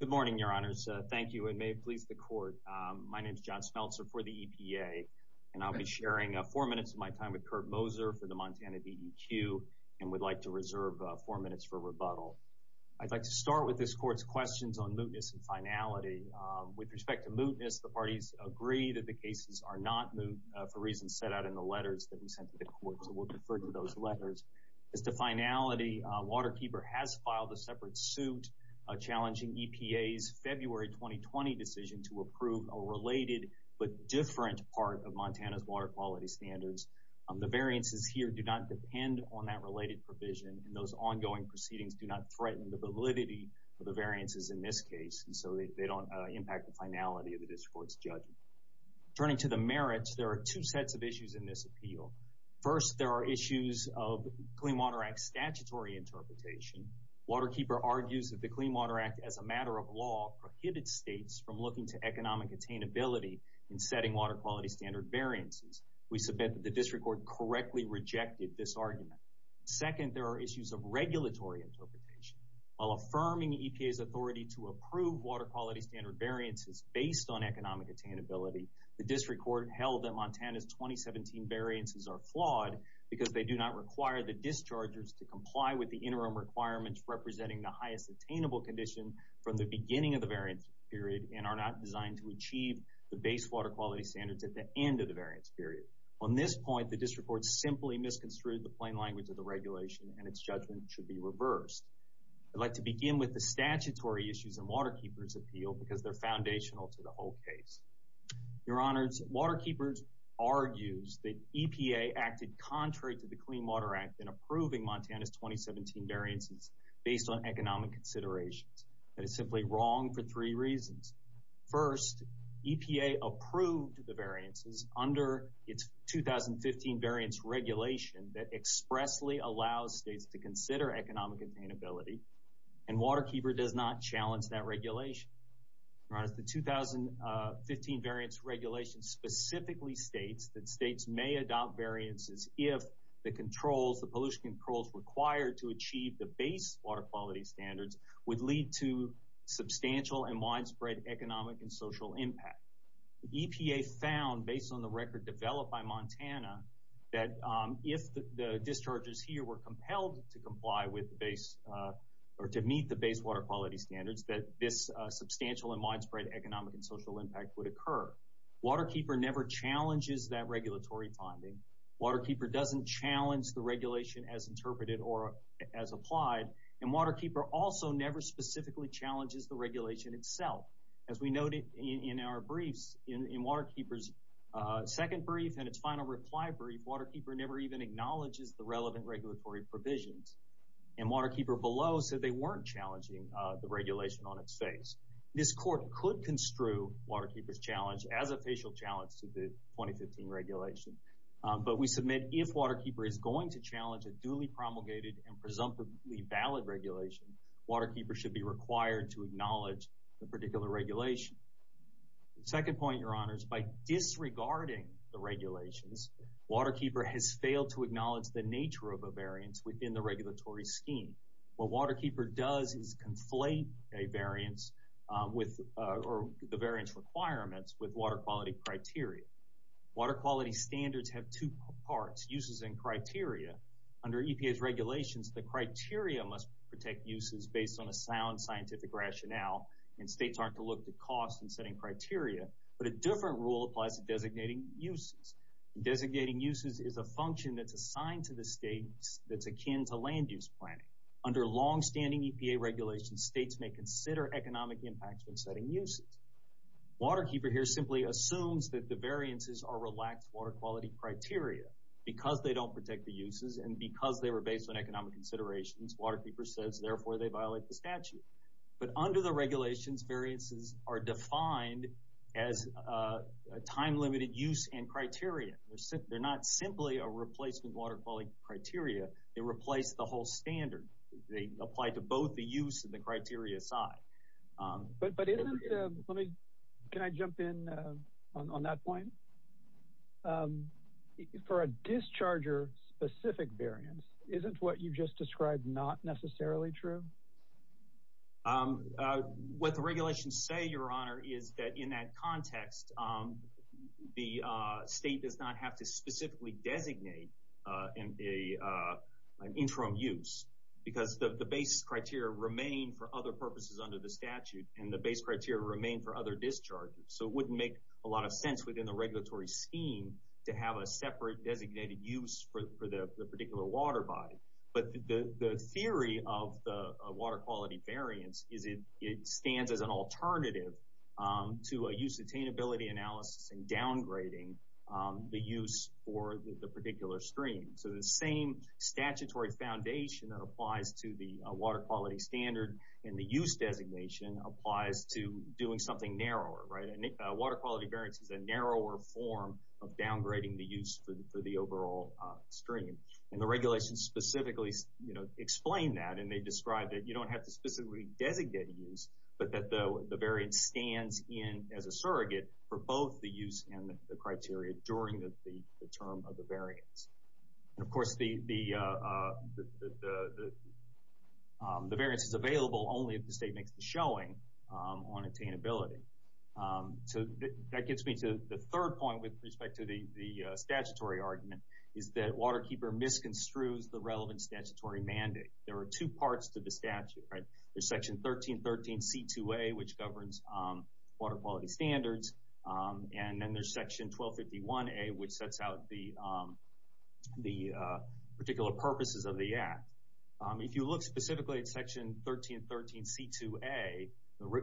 Good morning, your honors. Thank you, and may it please the court. My name is John Smeltzer for the EPA, and I'll be sharing four minutes of my time with Kurt Moser for the Montana DEQ, and would like to reserve four minutes for rebuttal. I'd like to start with this court's questions on mootness and finality. With respect to mootness, the parties agree that the cases are not moot for reasons set out in the letters that we sent to the court, so we'll defer to those letters. As to finality, Waterkeeper has filed a separate suit challenging EPA's February 2020 decision to approve a related but different part of Montana's water quality standards. The variances here do not depend on that related provision, and those ongoing proceedings do not threaten the validity of the variances in this case, so they don't impact the finality of this court's judgment. Turning to the merits, there are two sets of issues in this appeal. First, there are issues of Clean Water Act statutory interpretation. Waterkeeper argues that the Clean Water Act, as a matter of law, prohibited states from looking to economic attainability in setting water quality standard variances. We submit that the district court correctly rejected this argument. Second, there are issues of regulatory interpretation. While affirming EPA's authority to approve water quality standard variances based on economic attainability, the district court held that Montana's 2017 variances are flawed because they do not require the dischargers to comply with the interim requirements representing the highest attainable condition from the beginning of the variance period and are not designed to achieve the base water quality standards at the end of the variance period. On this point, the district court simply misconstrued the plain language of the regulation, and its judgment should be reversed. I'd like to begin with the statutory issues in Waterkeeper's appeal because they're foundational to the whole case. Your Honors, Waterkeeper argues that EPA acted contrary to the Clean Water Act in approving Montana's 2017 variances based on economic considerations. That is simply wrong for three reasons. First, EPA approved the variances under its 2015 variance regulation that expressly allows states to consider economic attainability, and Waterkeeper does not challenge that regulation. Your Honors, the 2015 variance regulation specifically states that states may adopt variances if the pollution controls required to achieve the base water quality standards would lead to substantial and widespread economic and social impact. EPA found, based on the evidence held to meet the base water quality standards, that this substantial and widespread economic and social impact would occur. Waterkeeper never challenges that regulatory finding. Waterkeeper doesn't challenge the regulation as interpreted or as applied, and Waterkeeper also never specifically challenges the regulation itself. As we noted in our briefs, in Waterkeeper's second brief and its final reply brief, Waterkeeper never even acknowledges the relevant regulatory provisions, and Waterkeeper below said they weren't challenging the regulation on its face. This Court could construe Waterkeeper's challenge as a facial challenge to the 2015 regulation, but we submit if Waterkeeper is going to challenge a duly promulgated and presumptively valid regulation, Waterkeeper should be required to acknowledge the particular regulation. Second point, Your Honors, by disregarding the regulations, Waterkeeper has failed to meet the requirements within the regulatory scheme. What Waterkeeper does is conflate a variance or the variance requirements with water quality criteria. Water quality standards have two parts, uses and criteria. Under EPA's regulations, the criteria must protect uses based on a sound scientific rationale, and states aren't to look to cost in setting criteria, but a different rule applies to designating uses. Designating uses is a function that's akin to land use planning. Under longstanding EPA regulations, states may consider economic impacts when setting uses. Waterkeeper here simply assumes that the variances are relaxed water quality criteria. Because they don't protect the uses and because they were based on economic considerations, Waterkeeper says, therefore, they violate the statute. But under the regulations, variances are defined as a time-limited use and criteria. They're not simply a replacement water quality criteria. They replace the whole standard. They apply to both the use and the criteria side. But isn't, let me, can I jump in on that point? For a discharger-specific variance, isn't what you just described not necessarily true? What the regulations say, Your Honor, is that in that context, the state does not have to specifically designate an interim use because the base criteria remain for other purposes under the statute and the base criteria remain for other discharges. So it wouldn't make a lot of sense within the regulatory scheme to have a separate designated use for the particular water body. But the theory of the water quality variance is it stands as an interim use for the particular stream. So the same statutory foundation that applies to the water quality standard and the use designation applies to doing something narrower. Water quality variance is a narrower form of downgrading the use for the overall stream. The regulations specifically explain that and they describe that you don't have to specifically designate a use, but that the variance stands in as a surrogate for both the use and the term of the variance. Of course, the variance is available only if the state makes the showing on attainability. So that gets me to the third point with respect to the statutory argument is that Waterkeeper misconstrues the relevant statutory mandate. There are two parts to the statute, right? There's section 1313C2A, which governs water quality standards, and then there's section 1251A, which sets out the particular purposes of the act. If you look specifically at section 1313C2A,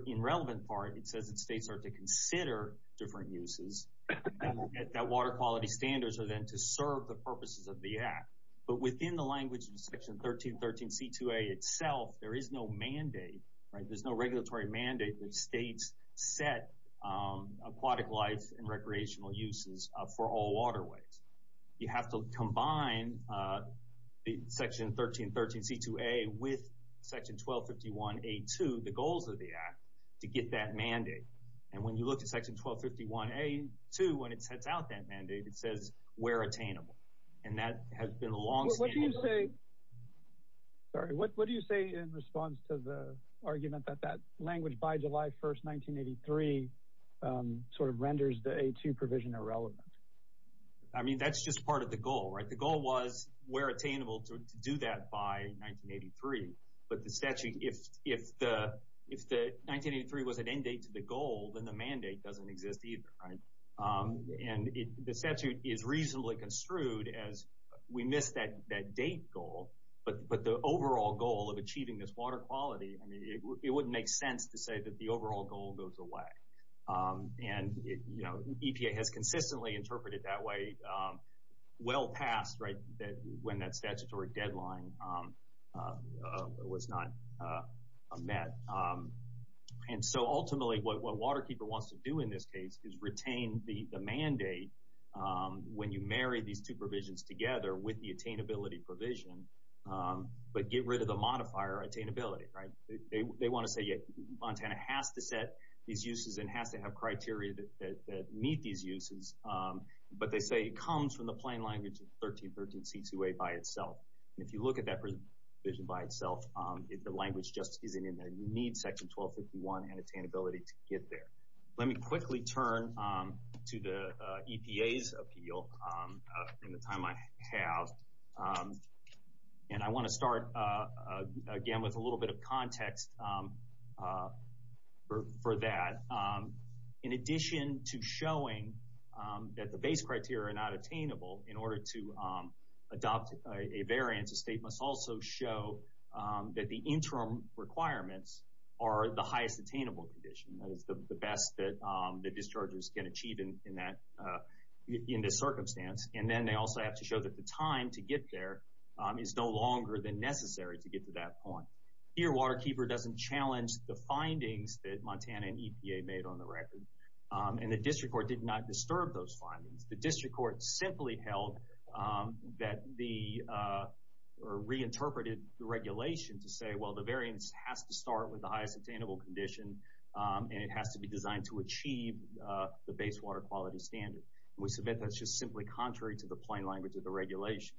in relevant part, it says that states are to consider different uses and that water quality standards are then to serve the purposes of the act. But within the language of section 1313C2A itself, there is no mandate, right? There's no regulatory mandate that states set aquatic life and recreational uses for all waterways. You have to combine section 1313C2A with section 1251A2, the goals of the act, to get that mandate. And when you look at section 1251A2, when it sets out that mandate, it says we're attainable. And that has been a longstanding... Sorry, what do you say in response to the argument that that language by July 1st, 1983 sort of renders the A2 provision irrelevant? I mean, that's just part of the goal, right? The goal was we're attainable to do that by 1983. But the statute, if the 1983 was an end date to the goal, then the mandate doesn't exist either, right? And the statute is reasonably construed as we missed that date goal. But the overall goal of achieving this water quality, I mean, it wouldn't make sense to say that the overall goal goes away. And EPA has consistently interpreted that way well past, right, when that statutory deadline was not met. And so ultimately, what WaterKeeper wants to do in this case is retain the mandate when you marry these two provisions together with the attainability provision, but get rid of the modifier attainability, right? They want to say, yeah, Montana has to set these uses and has to have criteria that meet these uses. But they say it comes from the plain language of 1313C2A by itself. And if you look at that provision by itself, the language just isn't in there. You need section 1251 and attainability to get there. Let me quickly turn to the EPA's appeal in the time I have. And I want to start again with a little bit of context for that. In addition to showing that the base criteria are not attainable, in order to adopt a variance, a state must also show that the interim requirements are the highest attainable condition. That is the best that the dischargers can achieve in this circumstance. And then they also have to show that the time to get there is no longer than necessary to get to that point. Here, WaterKeeper doesn't challenge the findings that Montana and EPA made on the record. And the district court did not disturb those findings. The district court simply held that the, or reinterpreted the regulation to say, well, the variance has to start with the highest attainable condition. And it has to be designed to achieve the base water quality standard. And we submit that's just simply contrary to the plain language of the regulation.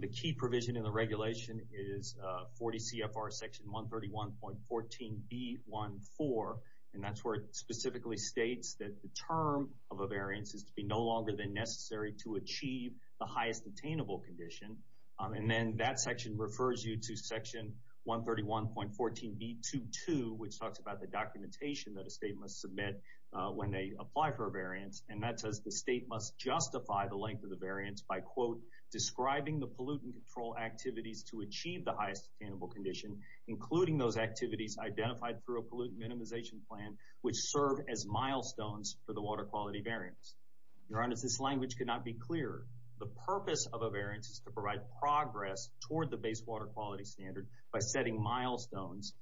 The key provision in the regulation is 40 CFR section 131.14B14. And that's where it specifically states that the term of a variance is to be no longer than necessary to achieve the highest attainable condition. And then that section refers you to section 131.14B22, which talks about the documentation that a state must submit when they apply for a variance. And that says the state must justify the length of the variance by, quote, describing the pollutant control activities to achieve the highest attainable condition, including those activities identified through a pollutant minimization plan, which serve as milestones for the water quality variance. Your Honor, this language could not be clearer. The purpose of a variance is to provide progress toward the base water quality standard by setting milestones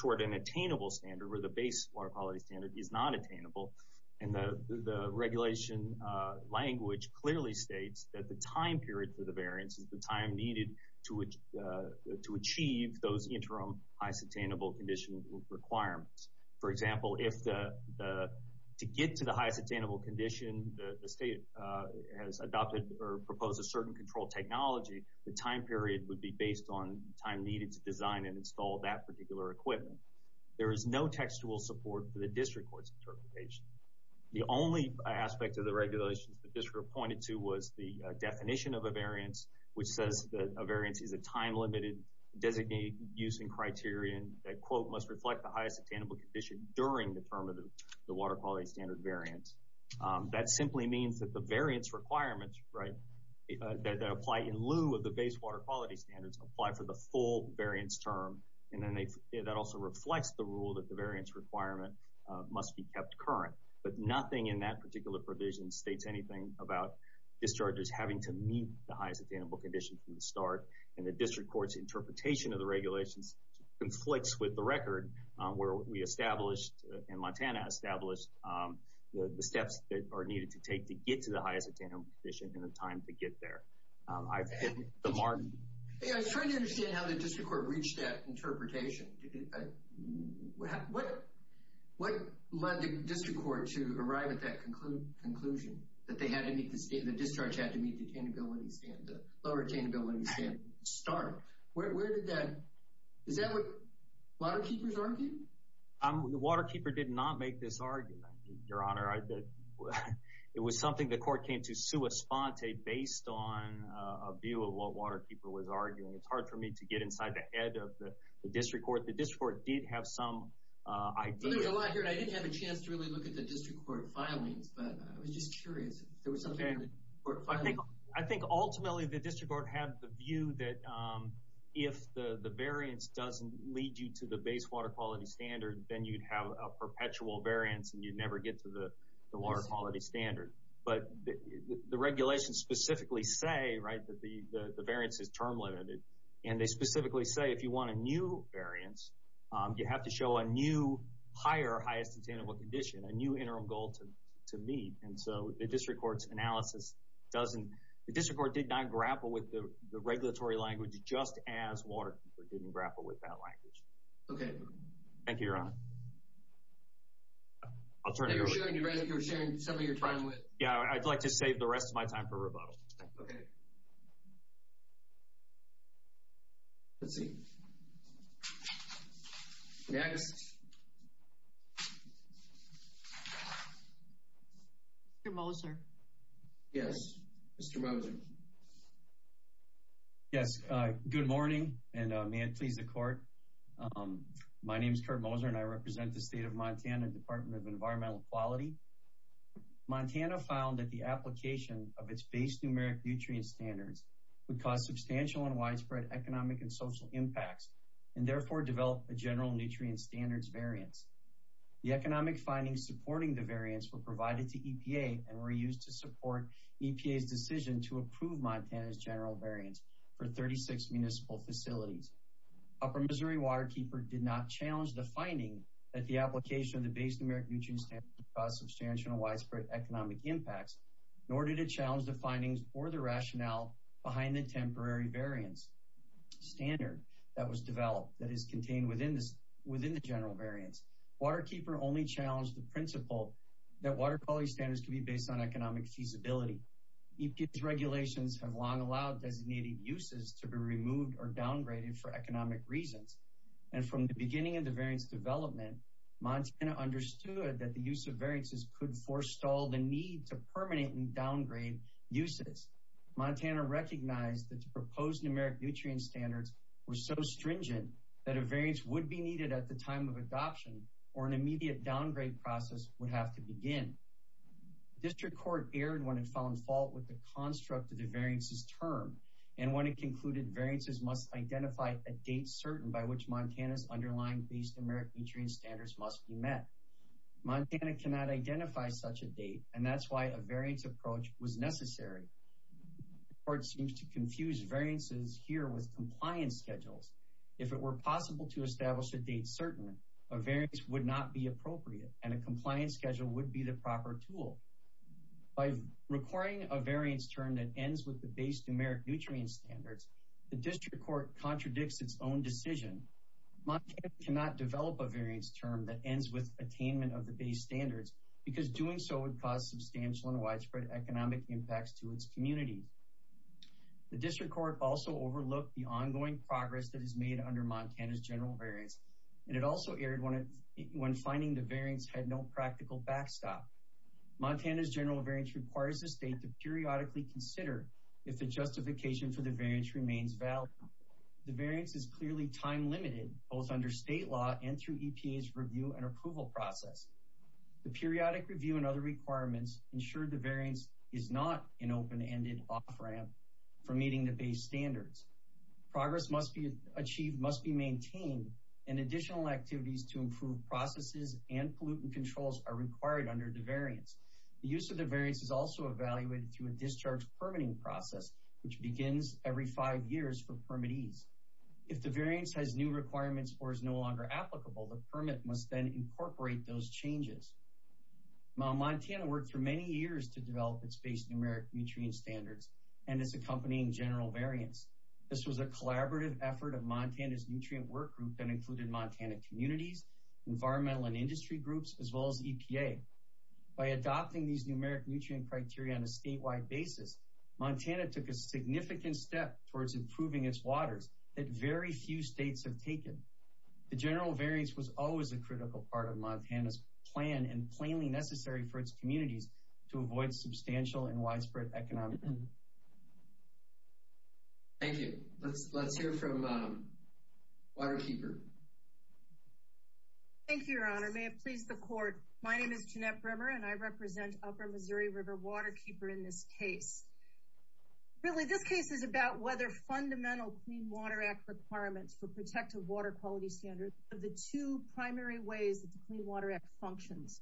toward an attainable standard where the base water quality standard is not attainable. And the regulation language clearly states that the time period for the variance is the time needed to achieve those interim highest attainable condition requirements. For example, to get to the highest attainable condition, the state has adopted or proposed a certain control technology. The time period would be based on time needed to design and install that particular equipment. There is no textual support for the district court's interpretation. The only aspect of the regulations the district pointed to was the definition of a variance, which says that a variance is a time-limited designated use and criterion that, quote, must reflect the highest attainable condition during the term of the water quality standard variance. That simply means that the variance requirements, right, that apply in lieu of the base water quality standards apply for the full variance term. And then that also reflects the rule that the variance requirement must be kept current. But nothing in that particular provision states anything about discharges having to meet the highest attainable condition from the start. And the district court's interpretation of the Montana established the steps that are needed to take to get to the highest attainable condition in the time to get there. I've hit the mark. I was trying to understand how the district court reached that interpretation. What led the district court to arrive at that conclusion, that the discharge had to meet the attainability standard, the lower attainability standard, start? Is that what waterkeepers argued? The waterkeeper did not make this argument, Your Honor. It was something the court came to sua sponte based on a view of what waterkeeper was arguing. It's hard for me to get inside the head of the district court. The district court did have some idea. There's a lot here, and I didn't have a chance to really look at the district court filings, but I was just curious if there was something in the court filings. I think ultimately the district court had the view that if the variance doesn't lead you to the base water quality standard, then you'd have a perpetual variance, and you'd never get to the water quality standard. But the regulations specifically say that the variance is term-limited, and they specifically say if you want a new variance, you have to show a new higher highest attainable condition, a new interim goal to meet. And so the district court's analysis doesn't, the district court did not grapple with the regulatory language just as waterkeeper didn't grapple with that language. Okay. Thank you, Your Honor. I'll turn it over. You're sharing some of your time with. Yeah, I'd like to save the rest of my time for rebuttal. Okay. Let's see. Next. Mr. Moser. Yes, Mr. Moser. Yes, good morning, and may it please the court. My name is Kurt Moser, and I represent the State of Montana Department of Environmental Quality. Montana found that the application of its base numeric nutrient standards would cause substantial and widespread economic and social impacts, and therefore develop a general nutrient standards variance. The economic findings supporting the variance were provided to EPA and were used to support EPA's decision to approve Montana's general variance for 36 municipal facilities. Upper Missouri Waterkeeper did not challenge the finding that the application of the base numeric nutrient standards would cause substantial and or the rationale behind the temporary variance standard that was developed that is contained within the general variance. Waterkeeper only challenged the principle that water quality standards can be based on economic feasibility. EPA's regulations have long allowed designated uses to be removed or downgraded for economic reasons, and from the beginning of the variance development, Montana understood that the use of variances could forestall the need to permanent downgrade uses. Montana recognized that the proposed numeric nutrient standards were so stringent that a variance would be needed at the time of adoption or an immediate downgrade process would have to begin. District Court erred when it found fault with the construct of the variances term, and when it concluded variances must identify a date certain by which Montana's underlying base numeric nutrient standards must be met. Montana cannot identify such a date, and that's why a variance approach was necessary. The court seems to confuse variances here with compliance schedules. If it were possible to establish a date certain, a variance would not be appropriate and a compliance schedule would be the proper tool. By requiring a variance term that ends with the base numeric nutrient standards, the District Court contradicts its own decision. Montana cannot develop a variance term that ends with attainment of the base standards because doing so would cause substantial and widespread economic impacts to its communities. The District Court also overlooked the ongoing progress that is made under Montana's general variance, and it also erred when finding the variance had no practical backstop. Montana's general variance requires the state to periodically consider if the justification for the variance remains valid. The variance is clearly time limited both under state law and through EPA's review and approval process. The periodic review and other requirements ensure the variance is not an open-ended off-ramp for meeting the base standards. Progress must be achieved, must be maintained, and additional activities to improve processes and pollutant controls are required under the variance. The use of the variance is also evaluated through a discharge permitting process which begins every five years for permittees. If the variance has new requirements or is no longer applicable, the permit must then incorporate those changes. Montana worked for many years to develop its base numeric nutrient standards and its accompanying general variance. This was a collaborative effort of Montana's nutrient work group that included Montana communities, environmental and industry groups, as well as EPA. By adopting these numeric nutrient criteria on a statewide basis, Montana took a significant step towards improving its waters that very few states have taken. The general variance was always a critical part of Montana's plan and plainly necessary for its communities to avoid substantial and widespread economic. Thank you. Let's let's hear from Waterkeeper. Thank you, your honor. May it please the court. My name is Jeanette Brimmer and I represent Upper Missouri River Waterkeeper in this case. Really, this case is about whether fundamental Clean Water Act requirements for protective water quality standards are the two primary ways that the Clean Water Act functions.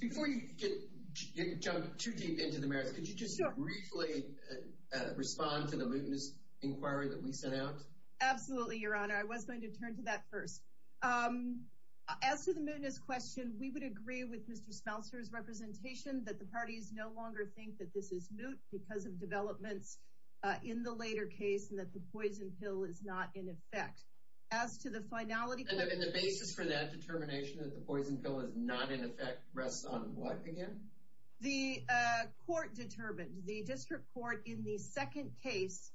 Before you jump too deep into the merits, could you just briefly respond to the mootness inquiry that we sent out? Absolutely, your honor. I was going to turn to that first. As to the mootness question, we would agree with Mr. Smeltzer's representation that the party is no longer think that this is moot because of developments in the later case and that the poison pill is not in effect. As to the finality... And the basis for that determination that the poison pill is not in effect rests on what again? The court determined, the district court in the second case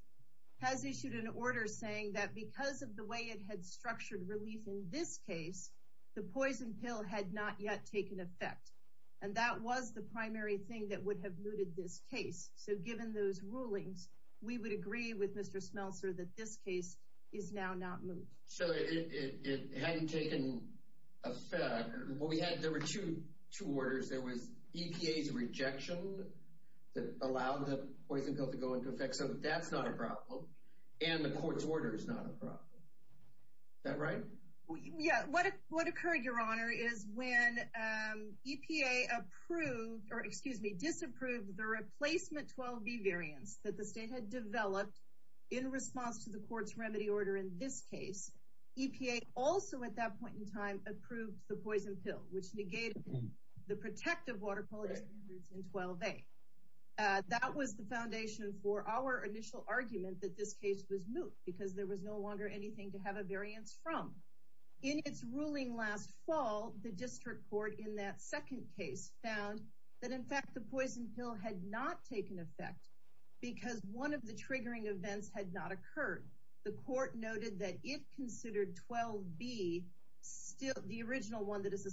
has issued an order saying that because of the way it had structured relief in this case, the poison pill had not yet taken effect. And that was the primary thing that would have mooted this case. So given those rulings, we would agree with Mr. Smeltzer that this case is now not moot. So it hadn't taken effect. There were two orders. There was EPA's rejection that allowed the poison pill to go into effect. So that's not a problem. And the court's order is not a problem. Is that right? Yeah, what occurred, your honor, is when EPA approved, or excuse me, disapproved the replacement 12B variants that the state had developed in response to the court's remedy order in this case. EPA also at that point in time approved the poison pill, which negated the protective water quality standards in 12A. That was the foundation for our initial argument that this case was moot because there was no longer anything to have a variance from. In its ruling last fall, the district court in that second case found that in fact the poison pill had not taken effect because one of the triggering events had not occurred. The court noted that it considered 12B, the original one that is the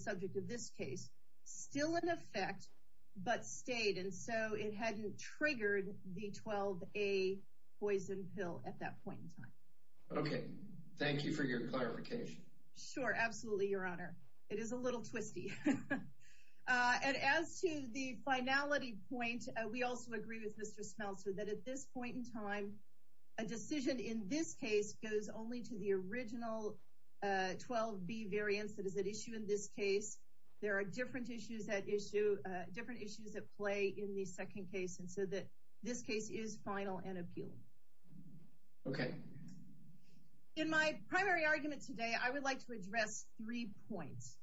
it hadn't triggered the 12A poison pill at that point in time. Okay, thank you for your clarification. Sure, absolutely, your honor. It is a little twisty. And as to the finality point, we also agree with Mr. Smeltzer that at this point in time, a decision in this case goes only to the original 12B variants that is at issue in this case. There are different issues different issues at play in the second case and so that this case is final and appealed. Okay. In my primary argument today, I would like to address three points.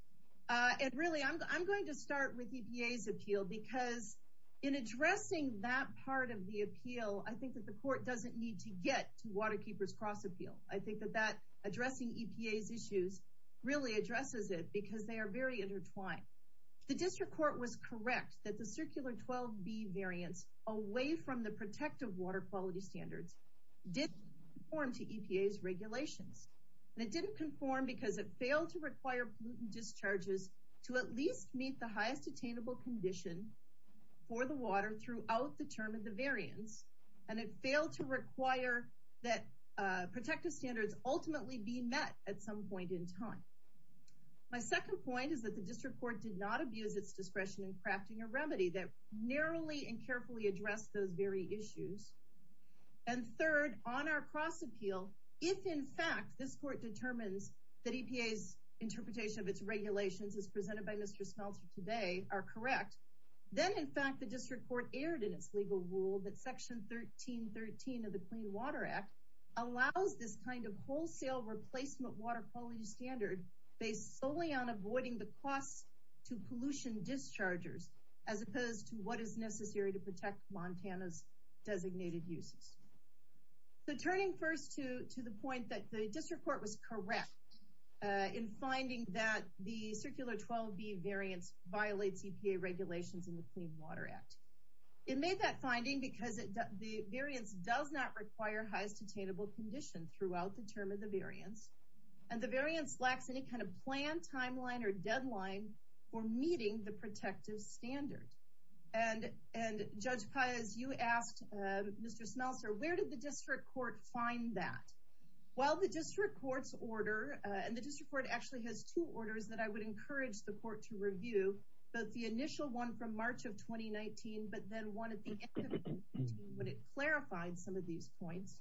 And really, I'm going to start with EPA's appeal because in addressing that part of the appeal, I think that the court doesn't need to get to Waterkeepers Cross-Appeal. I think that that court was correct that the circular 12B variants away from the protective water quality standards did conform to EPA's regulations. And it didn't conform because it failed to require pollutant discharges to at least meet the highest attainable condition for the water throughout the term of the variants. And it failed to require that protective standards ultimately be met at some point in time. My second point is that the district court did not abuse its discretion in crafting a remedy that narrowly and carefully addressed those very issues. And third, on our cross appeal, if in fact this court determines that EPA's interpretation of its regulations as presented by Mr. Smeltzer today are correct, then in fact the district court erred in its legal rule that section 1313 of the Clean Water Act allows this kind of wholesale replacement water quality standard based solely on avoiding the cost to pollution dischargers as opposed to what is necessary to protect Montana's designated uses. So turning first to the point that the district court was correct in finding that the circular 12B variants violate EPA regulations in the Clean Water Act. It made that finding because the variants does not require highest attainable condition throughout the term of the variants. And the variants lacks any kind of plan, timeline, or deadline for meeting the protective standard. And Judge Paez, you asked Mr. Smeltzer, where did the district court find that? Well, the district court's order, and the district court actually has two orders that I would encourage the court to review, both the initial one from March of 2019, but then one at the end of 2019 when it clarified some of these points.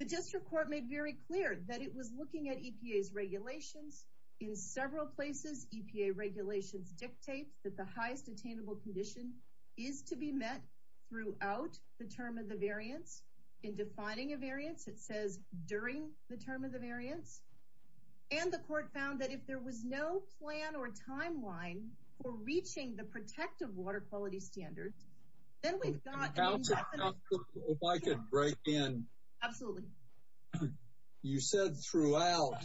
The district court made very clear that it was looking at EPA's regulations. In several places, EPA regulations dictate that the highest attainable condition is to be met throughout the term of the variants. In defining a variance, it says during the term of the variants. And the court found that if there was no plan or timeline for reaching the protective water quality standards, then we've got an indefinite period. If I could break in. Absolutely. You said throughout,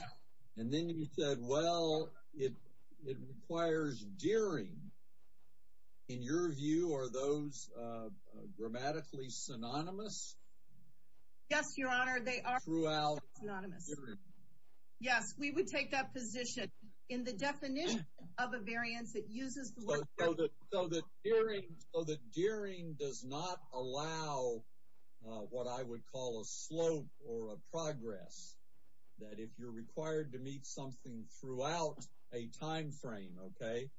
and then you said, well, it requires during. In your view, are those grammatically synonymous? Yes, Your Honor, they are. Throughout. Synonymous. During. Yes, we would take that position. In the definition of a variance, it uses the word. So that during does not allow what I would call a slope or a progress. That if you're required to meet something throughout a timeframe, okay?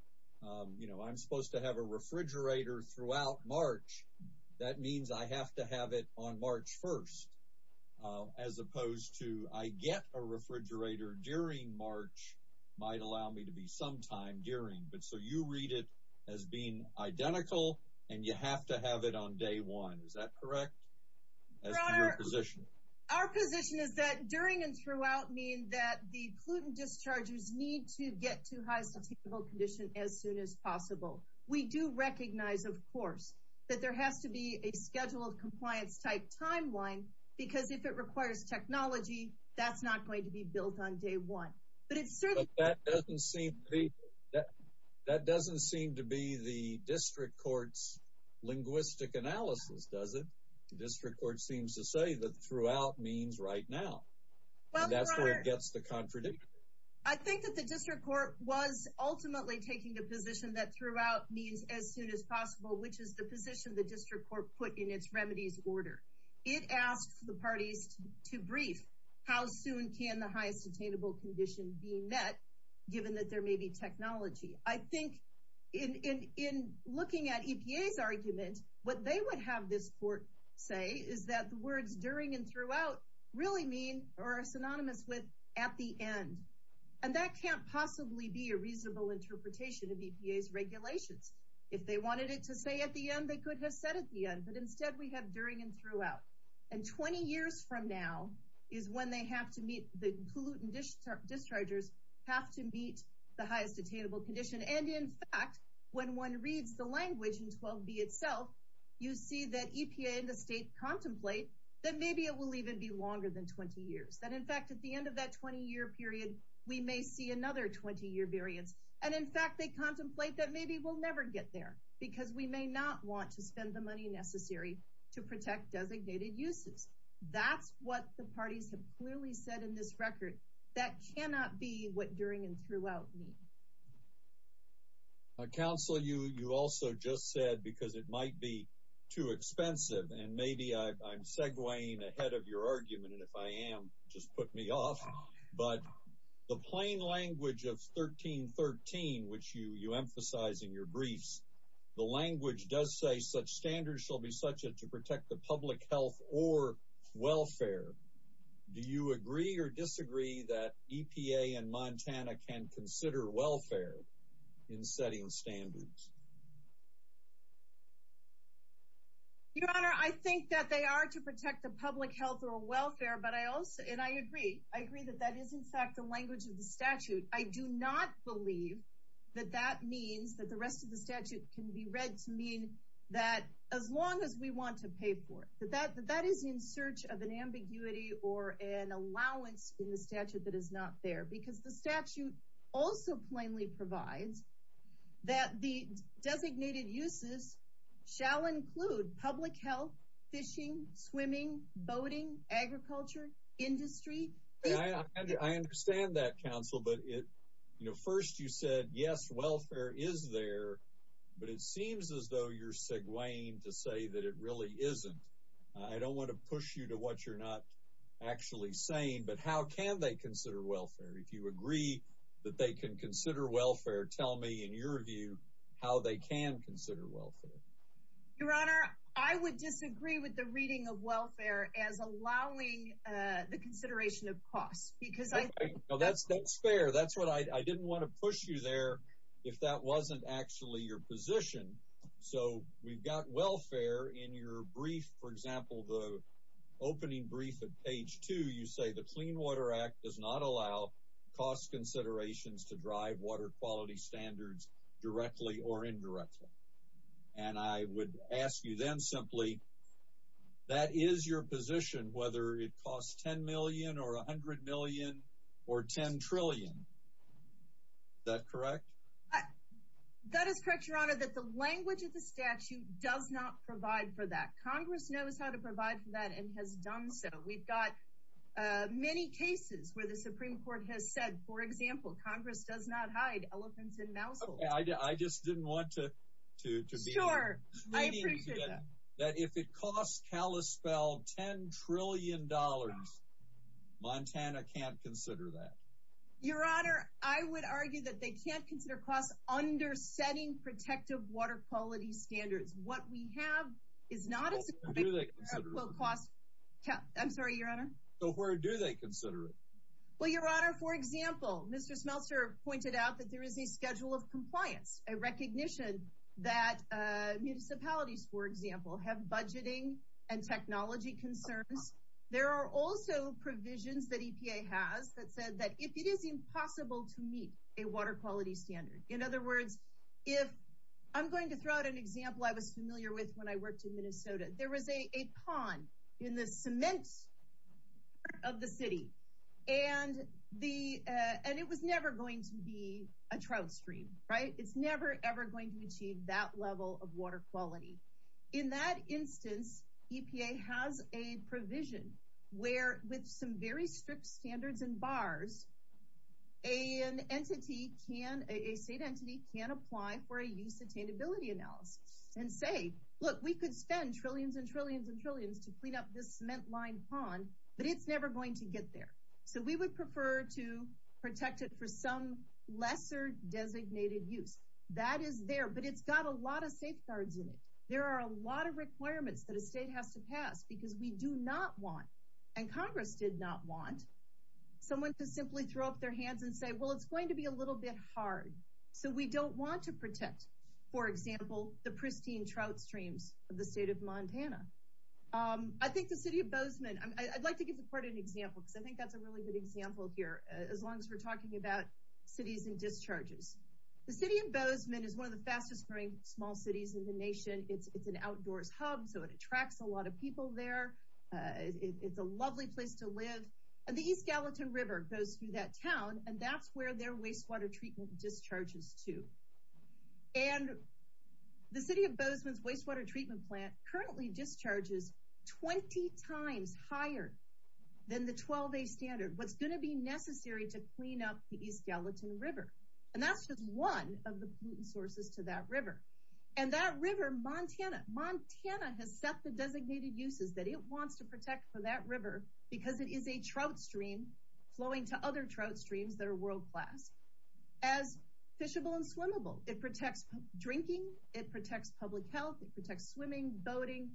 You know, I'm supposed to have a refrigerator throughout March. That means I have to have it on March 1st. As opposed to I get a refrigerator during March might allow me to be sometime during. But so you read it as being identical, and you have to have it on day one. Is that correct? Our position is that during and throughout mean that the pollutant dischargers need to get to highest attainable condition as soon as possible. We do recognize, of course, that there has to be a scheduled compliance type timeline, because if it requires technology, that's not going to be built on day one. But it's certainly. That doesn't seem to be the district court's linguistic analysis, does it? The district court seems to say that throughout means right now. That's where it gets the contradiction. I think that the district court was ultimately taking the position that throughout means as soon as possible, which is the position the district court put in its remedies order. It asked the parties to brief how soon can the highest attainable condition be met, given that there may be technology. I think in looking at EPA's argument, what they would have this court say is that the words during and throughout really mean or are synonymous with at the end. And that can't possibly be a reasonable interpretation of EPA's regulations. If they wanted it to say at the end, they could have said at the end. But instead, we have during and throughout. And 20 years from now is when they have to meet the pollutant dischargers have to meet the highest attainable condition. And in fact, when one reads the language in 12B itself, you see that EPA in the state contemplate that maybe it will even be longer than 20 years, that in fact, at the end of that 20 year period, we may see another 20 year variance. And in fact, they contemplate that maybe we'll never get there because we may not want to spend the money necessary to protect designated uses. That's what the parties have clearly said in this record. That cannot be what during and throughout mean. A council you you also just said, because it might be too expensive, and maybe I'm segwaying ahead of your argument. And if I am, just put me off. But the plain language of 1313, which you you emphasize in your briefs, the language does say such standards shall be such as to protect the public health or welfare. Do you agree or disagree that EPA and Montana can consider welfare in setting standards? Your Honor, I think that they are to protect the public health or welfare. But I also and I agree, I agree that that is, in fact, the language of the statute, I do not believe that that means that the rest of the statute can be read to mean that as long as we want to pay for that, that is in search of an ambiguity or an allowance in the statute that is not there, because the statute also plainly provides that the designated uses shall include public health, fishing, swimming, boating, agriculture, industry. I understand that counsel, but it, you know, first you said yes, welfare is there. But it seems as though you're segwaying to say that it really isn't. I don't want to push you to what you're not actually saying. But how can they consider welfare if you agree that they can consider welfare? Tell me in your view, how they can consider welfare. Your Honor, I would disagree with the reading of welfare as allowing the consideration of costs, because I know that's that's fair. That's what I didn't want to push you there. If that wasn't actually your position. So we've got welfare in your brief, for example, the opening brief of page two, you say the Clean Water Act does not allow cost considerations to drive water quality standards directly or indirectly. And I would ask you then simply, that is your position, whether it costs 10 million or 100 million, or 10 trillion. That correct? That is correct, Your Honor, that the language of the statute does not provide for that Congress knows how to provide for that and has done. So we've got many cases where the Supreme Court has said, for example, Congress does not hide elephants and mouse. I just didn't want to, to be sure that if it costs Kalispell $10 trillion, Montana can't consider that. Your Honor, I would argue that they can't consider costs under setting protective water quality standards. What we have is not a quote, I'm sorry, Your Honor. So where do they consider it? Well, Your Honor, for example, Mr. Smeltzer pointed out that there is a schedule of compliance, a recognition that municipalities, for example, have budgeting and technology concerns. There are also provisions that EPA has that said that if it is impossible to meet a water quality standard, in other words, if I'm going to throw out an example I was familiar with when I worked in Minnesota, there was a pond in the cement of the city. And it was never going to be a trout stream, right? It's never, ever going to achieve that level of water quality. In that instance, EPA has a clause, a state entity can apply for a use attainability analysis and say, look, we could spend trillions and trillions and trillions to clean up this cement line pond, but it's never going to get there. So we would prefer to protect it for some lesser designated use. That is there, but it's got a lot of safeguards in it. There are a lot of requirements that a state has to pass because we do not want, and Congress did not want, someone to simply throw up their hands and say, well, it's going to be a little bit hard. So we don't want to protect, for example, the pristine trout streams of the state of Montana. I think the city of Bozeman, I'd like to give the court an example because I think that's a really good example here, as long as we're talking about cities and discharges. The city of Bozeman is one of the fastest growing small cities in the nation. It's an outdoors hub, so it attracts a lot of people there. It's a lovely place to live. And the East Gallatin River goes through that town, and that's where their wastewater treatment discharges to. And the city of Bozeman's wastewater treatment plant currently discharges 20 times higher than the 12-day standard. What's going to be necessary to clean up the East Gallatin River? And that's just one of the pollutant sources to that river. And that river, Montana, Montana has set the designated uses that it wants to protect for that river because it is a trout stream flowing to other trout streams that are world-class as fishable and swimmable. It protects drinking. It protects public health. It protects swimming, boating,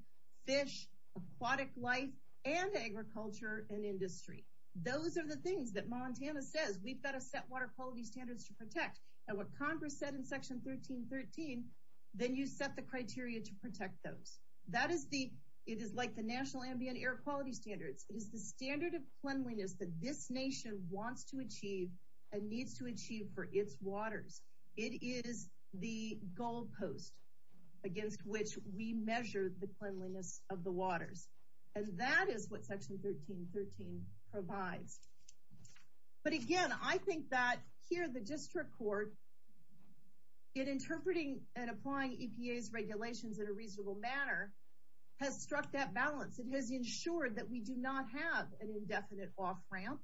fish, aquatic life, and agriculture and industry. Those are the things that Montana says we've got to set water quality standards to protect. And what Congress said in Section 1313, then you set the criteria to protect those. That is the, it is like the National Ambient Air Quality Standards. It is the standard of cleanliness that this nation wants to achieve and needs to achieve for its waters. It is the goalpost against which we measure the cleanliness of the waters. And that is what Section 1313 provides. But again, I think that here, the district court, in interpreting and applying EPA's regulations in a reasonable manner, has struck that balance. It has ensured that we do not have an indefinite off-ramp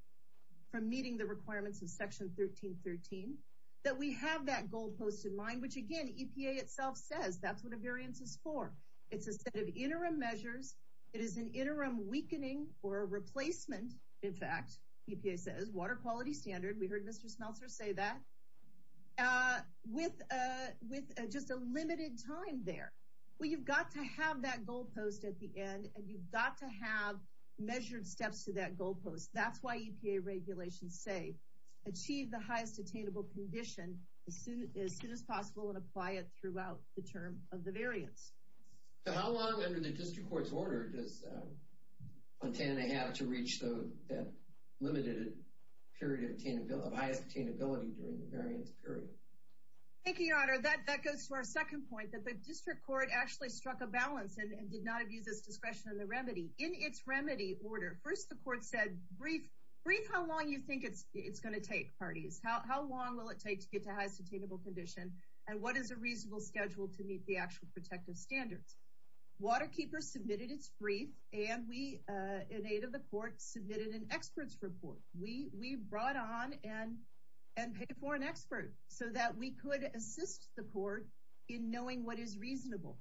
from meeting the requirements of Section 1313. That we have that goalpost in mind, which again, EPA itself says that's what a variance is for. It's a set of in fact, EPA says, water quality standard. We heard Mr. Smeltzer say that. With just a limited time there. Well, you've got to have that goalpost at the end and you've got to have measured steps to that goalpost. That's why EPA regulations say achieve the highest attainable condition as soon as possible and apply it throughout the term of the variance. So how long under the district court's order does Montana have to reach that limited period of highest attainability during the variance period? Thank you, your honor. That goes to our second point that the district court actually struck a balance and did not abuse its discretion in the remedy. In its remedy order, first the court said, brief how long you think it's going to take parties. How long will it take to get to highest attainable condition and what is a standard? Waterkeeper submitted its brief and we in aid of the court submitted an expert's report. We brought on and paid for an expert so that we could assist the court in knowing what is reasonable.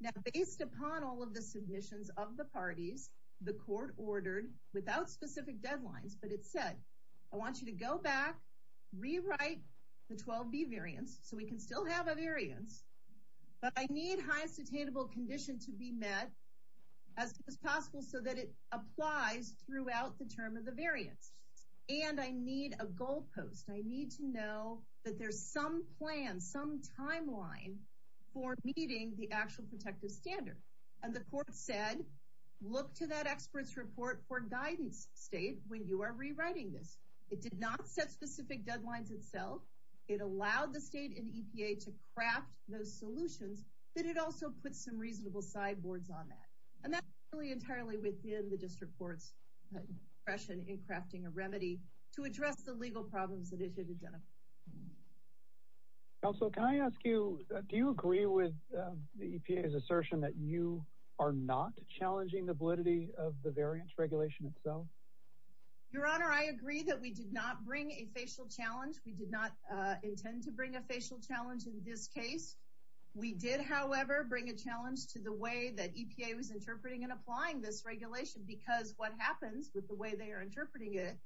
Now based upon all of the submissions of the parties, the court ordered without specific deadlines, but it said, I want you to go back, rewrite the 12B variance so we can still have variance, but I need highest attainable condition to be met as soon as possible so that it applies throughout the term of the variance. And I need a goalpost. I need to know that there's some plan, some timeline for meeting the actual protective standard. And the court said, look to that expert's report for guidance state when you are rewriting this. It did not set specific deadlines itself. It allowed the state and EPA to craft those solutions, but it also put some reasonable sideboards on that. And that's really entirely within the district court's impression in crafting a remedy to address the legal problems that it should have done. Counselor, can I ask you, do you agree with the EPA's assertion that you are not challenging the validity of the variance We did not intend to bring a facial challenge in this case. We did, however, bring a challenge to the way that EPA was interpreting and applying this regulation because what happens with the way they are interpreting it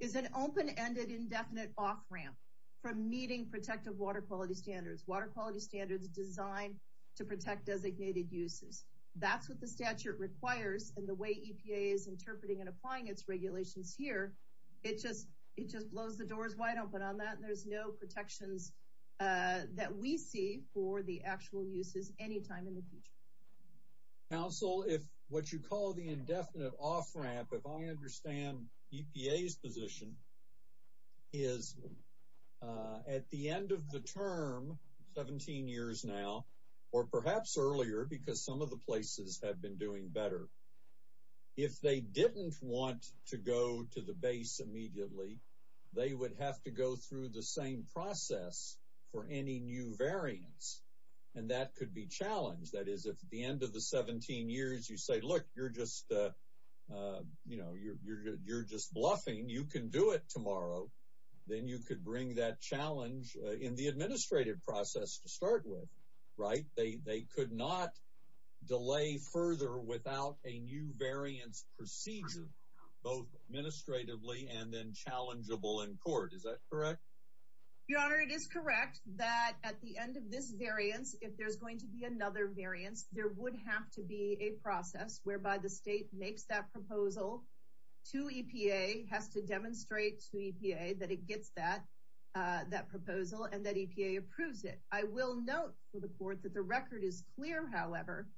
is an open-ended indefinite off-ramp from meeting protective water quality standards, water quality standards designed to protect designated uses. That's what the statute requires and the way EPA is interpreting and applying its regulations here. It just blows the doors wide open on that. There's no protections that we see for the actual uses anytime in the future. Counsel, if what you call the indefinite off-ramp, if I understand EPA's position is at the end of the term, 17 years now, or perhaps earlier because some of the places have been doing better, if they didn't want to go to the base immediately, they would have to go through the same process for any new variance and that could be challenged. That is, if at the end of the 17 years you say, look, you're just bluffing, you can do it tomorrow, then you could that challenge in the administrative process to start with, right? They could not delay further without a new variance procedure, both administratively and then challengeable in court. Is that correct? Your Honor, it is correct that at the end of this variance, if there's going to be another variance, there would have to be a process whereby the state makes that proposal to EPA, has to demonstrate to EPA that it gets that proposal and that EPA approves it. I will note for the court that the record is clear, however,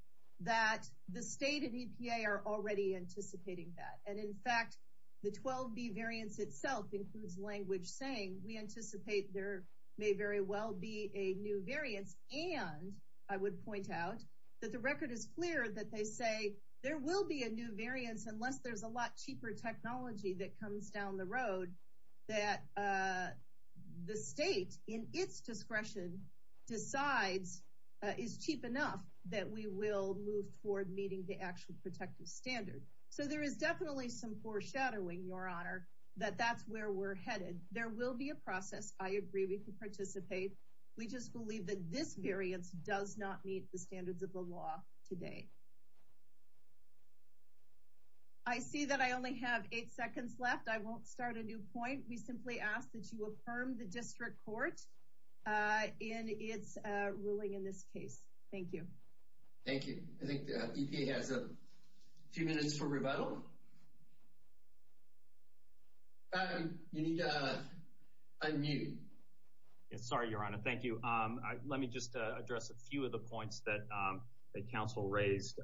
that the state and EPA are already anticipating that. And in fact, the 12B variance itself includes language saying we anticipate there may very well be a new variance. And I would point out that the record is clear that they say there will be a new variance unless there's a lot cheaper technology that comes down the road that the state, in its discretion, decides is cheap enough that we will move forward meeting the actual protective standard. So there is definitely some foreshadowing, Your Honor, that that's where we're headed. There will be a process. I agree we can participate. We just believe that this variance does not meet the standards of the law today. I see that I only have eight seconds left. I won't start a new point. We simply ask that you affirm the district court in its ruling in this case. Thank you. Thank you. I think the EPA has a few minutes for rebuttal. You need to unmute. Sorry, Your Honor. Thank you. Let me just address a few of the points that counsel raised.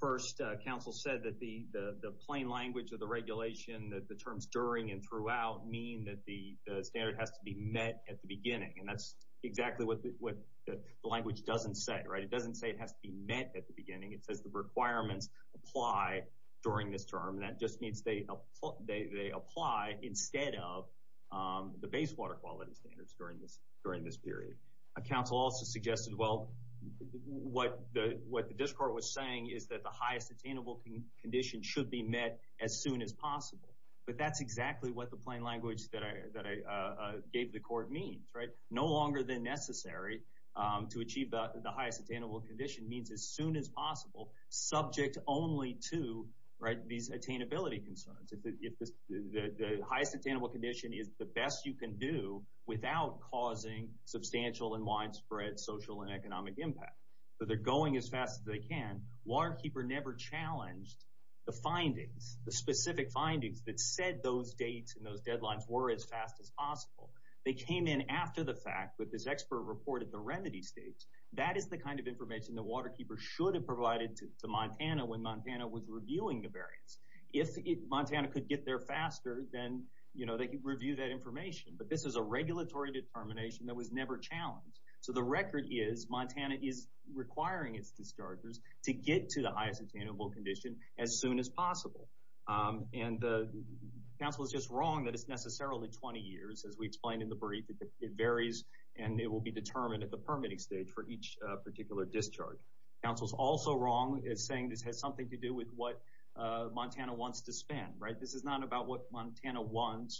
First, counsel said that the plain language of the regulation, that the terms during and throughout mean that the standard has to be met at the beginning. And that's exactly what the language doesn't say, right? It doesn't say it has to be met at the beginning. It says the requirements apply during this term. That just means they apply instead of the base water quality standards during this period. Counsel also suggested, well, what the district court was saying is that the highest attainable condition should be met as soon as possible. But that's exactly what the plain language that I gave the court means, right? No longer than necessary to achieve the highest attainable condition means as soon as possible, subject only to these attainability concerns. If the highest attainable condition is the best you can do without causing substantial and widespread social and economic impact. So they're going as fast as they can. Waterkeeper never challenged the findings, the specific findings that said those dates and those deadlines were as fast as possible. They came in after the fact, but this expert reported the remedy stage. That is the kind of information that Waterkeeper should have provided to Montana when Montana was reviewing that information. But this is a regulatory determination that was never challenged. So the record is Montana is requiring its dischargers to get to the highest attainable condition as soon as possible. And the counsel is just wrong that it's necessarily 20 years, as we explained in the brief. It varies and it will be determined at the permitting stage for each particular discharge. Counsel's also wrong in saying this has something to do with what Montana wants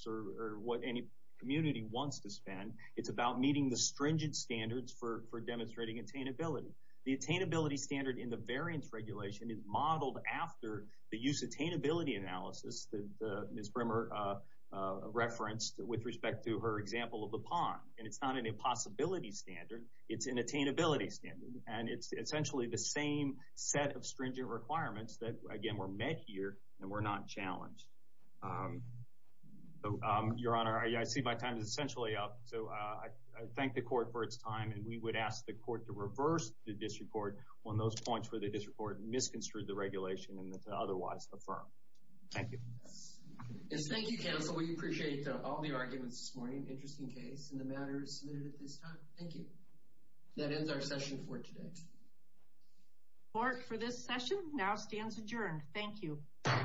or what any community wants to spend. It's about meeting the stringent standards for demonstrating attainability. The attainability standard in the variance regulation is modeled after the use attainability analysis that Ms. Brimmer referenced with respect to her example of the pond. And it's not an impossibility standard, it's an attainability standard. And it's essentially the same set of stringent requirements that again were met here and were not challenged. Your Honor, I see my time is essentially up. So I thank the court for its time and we would ask the court to reverse the disreport on those points where the disreport misconstrued the regulation and that's otherwise affirmed. Thank you. Thank you counsel. We appreciate all the arguments this morning. Interesting case and the matter is submitted at this time. Thank you. That ends our session for today. Court for this session now stands adjourned. Thank you. Thank you.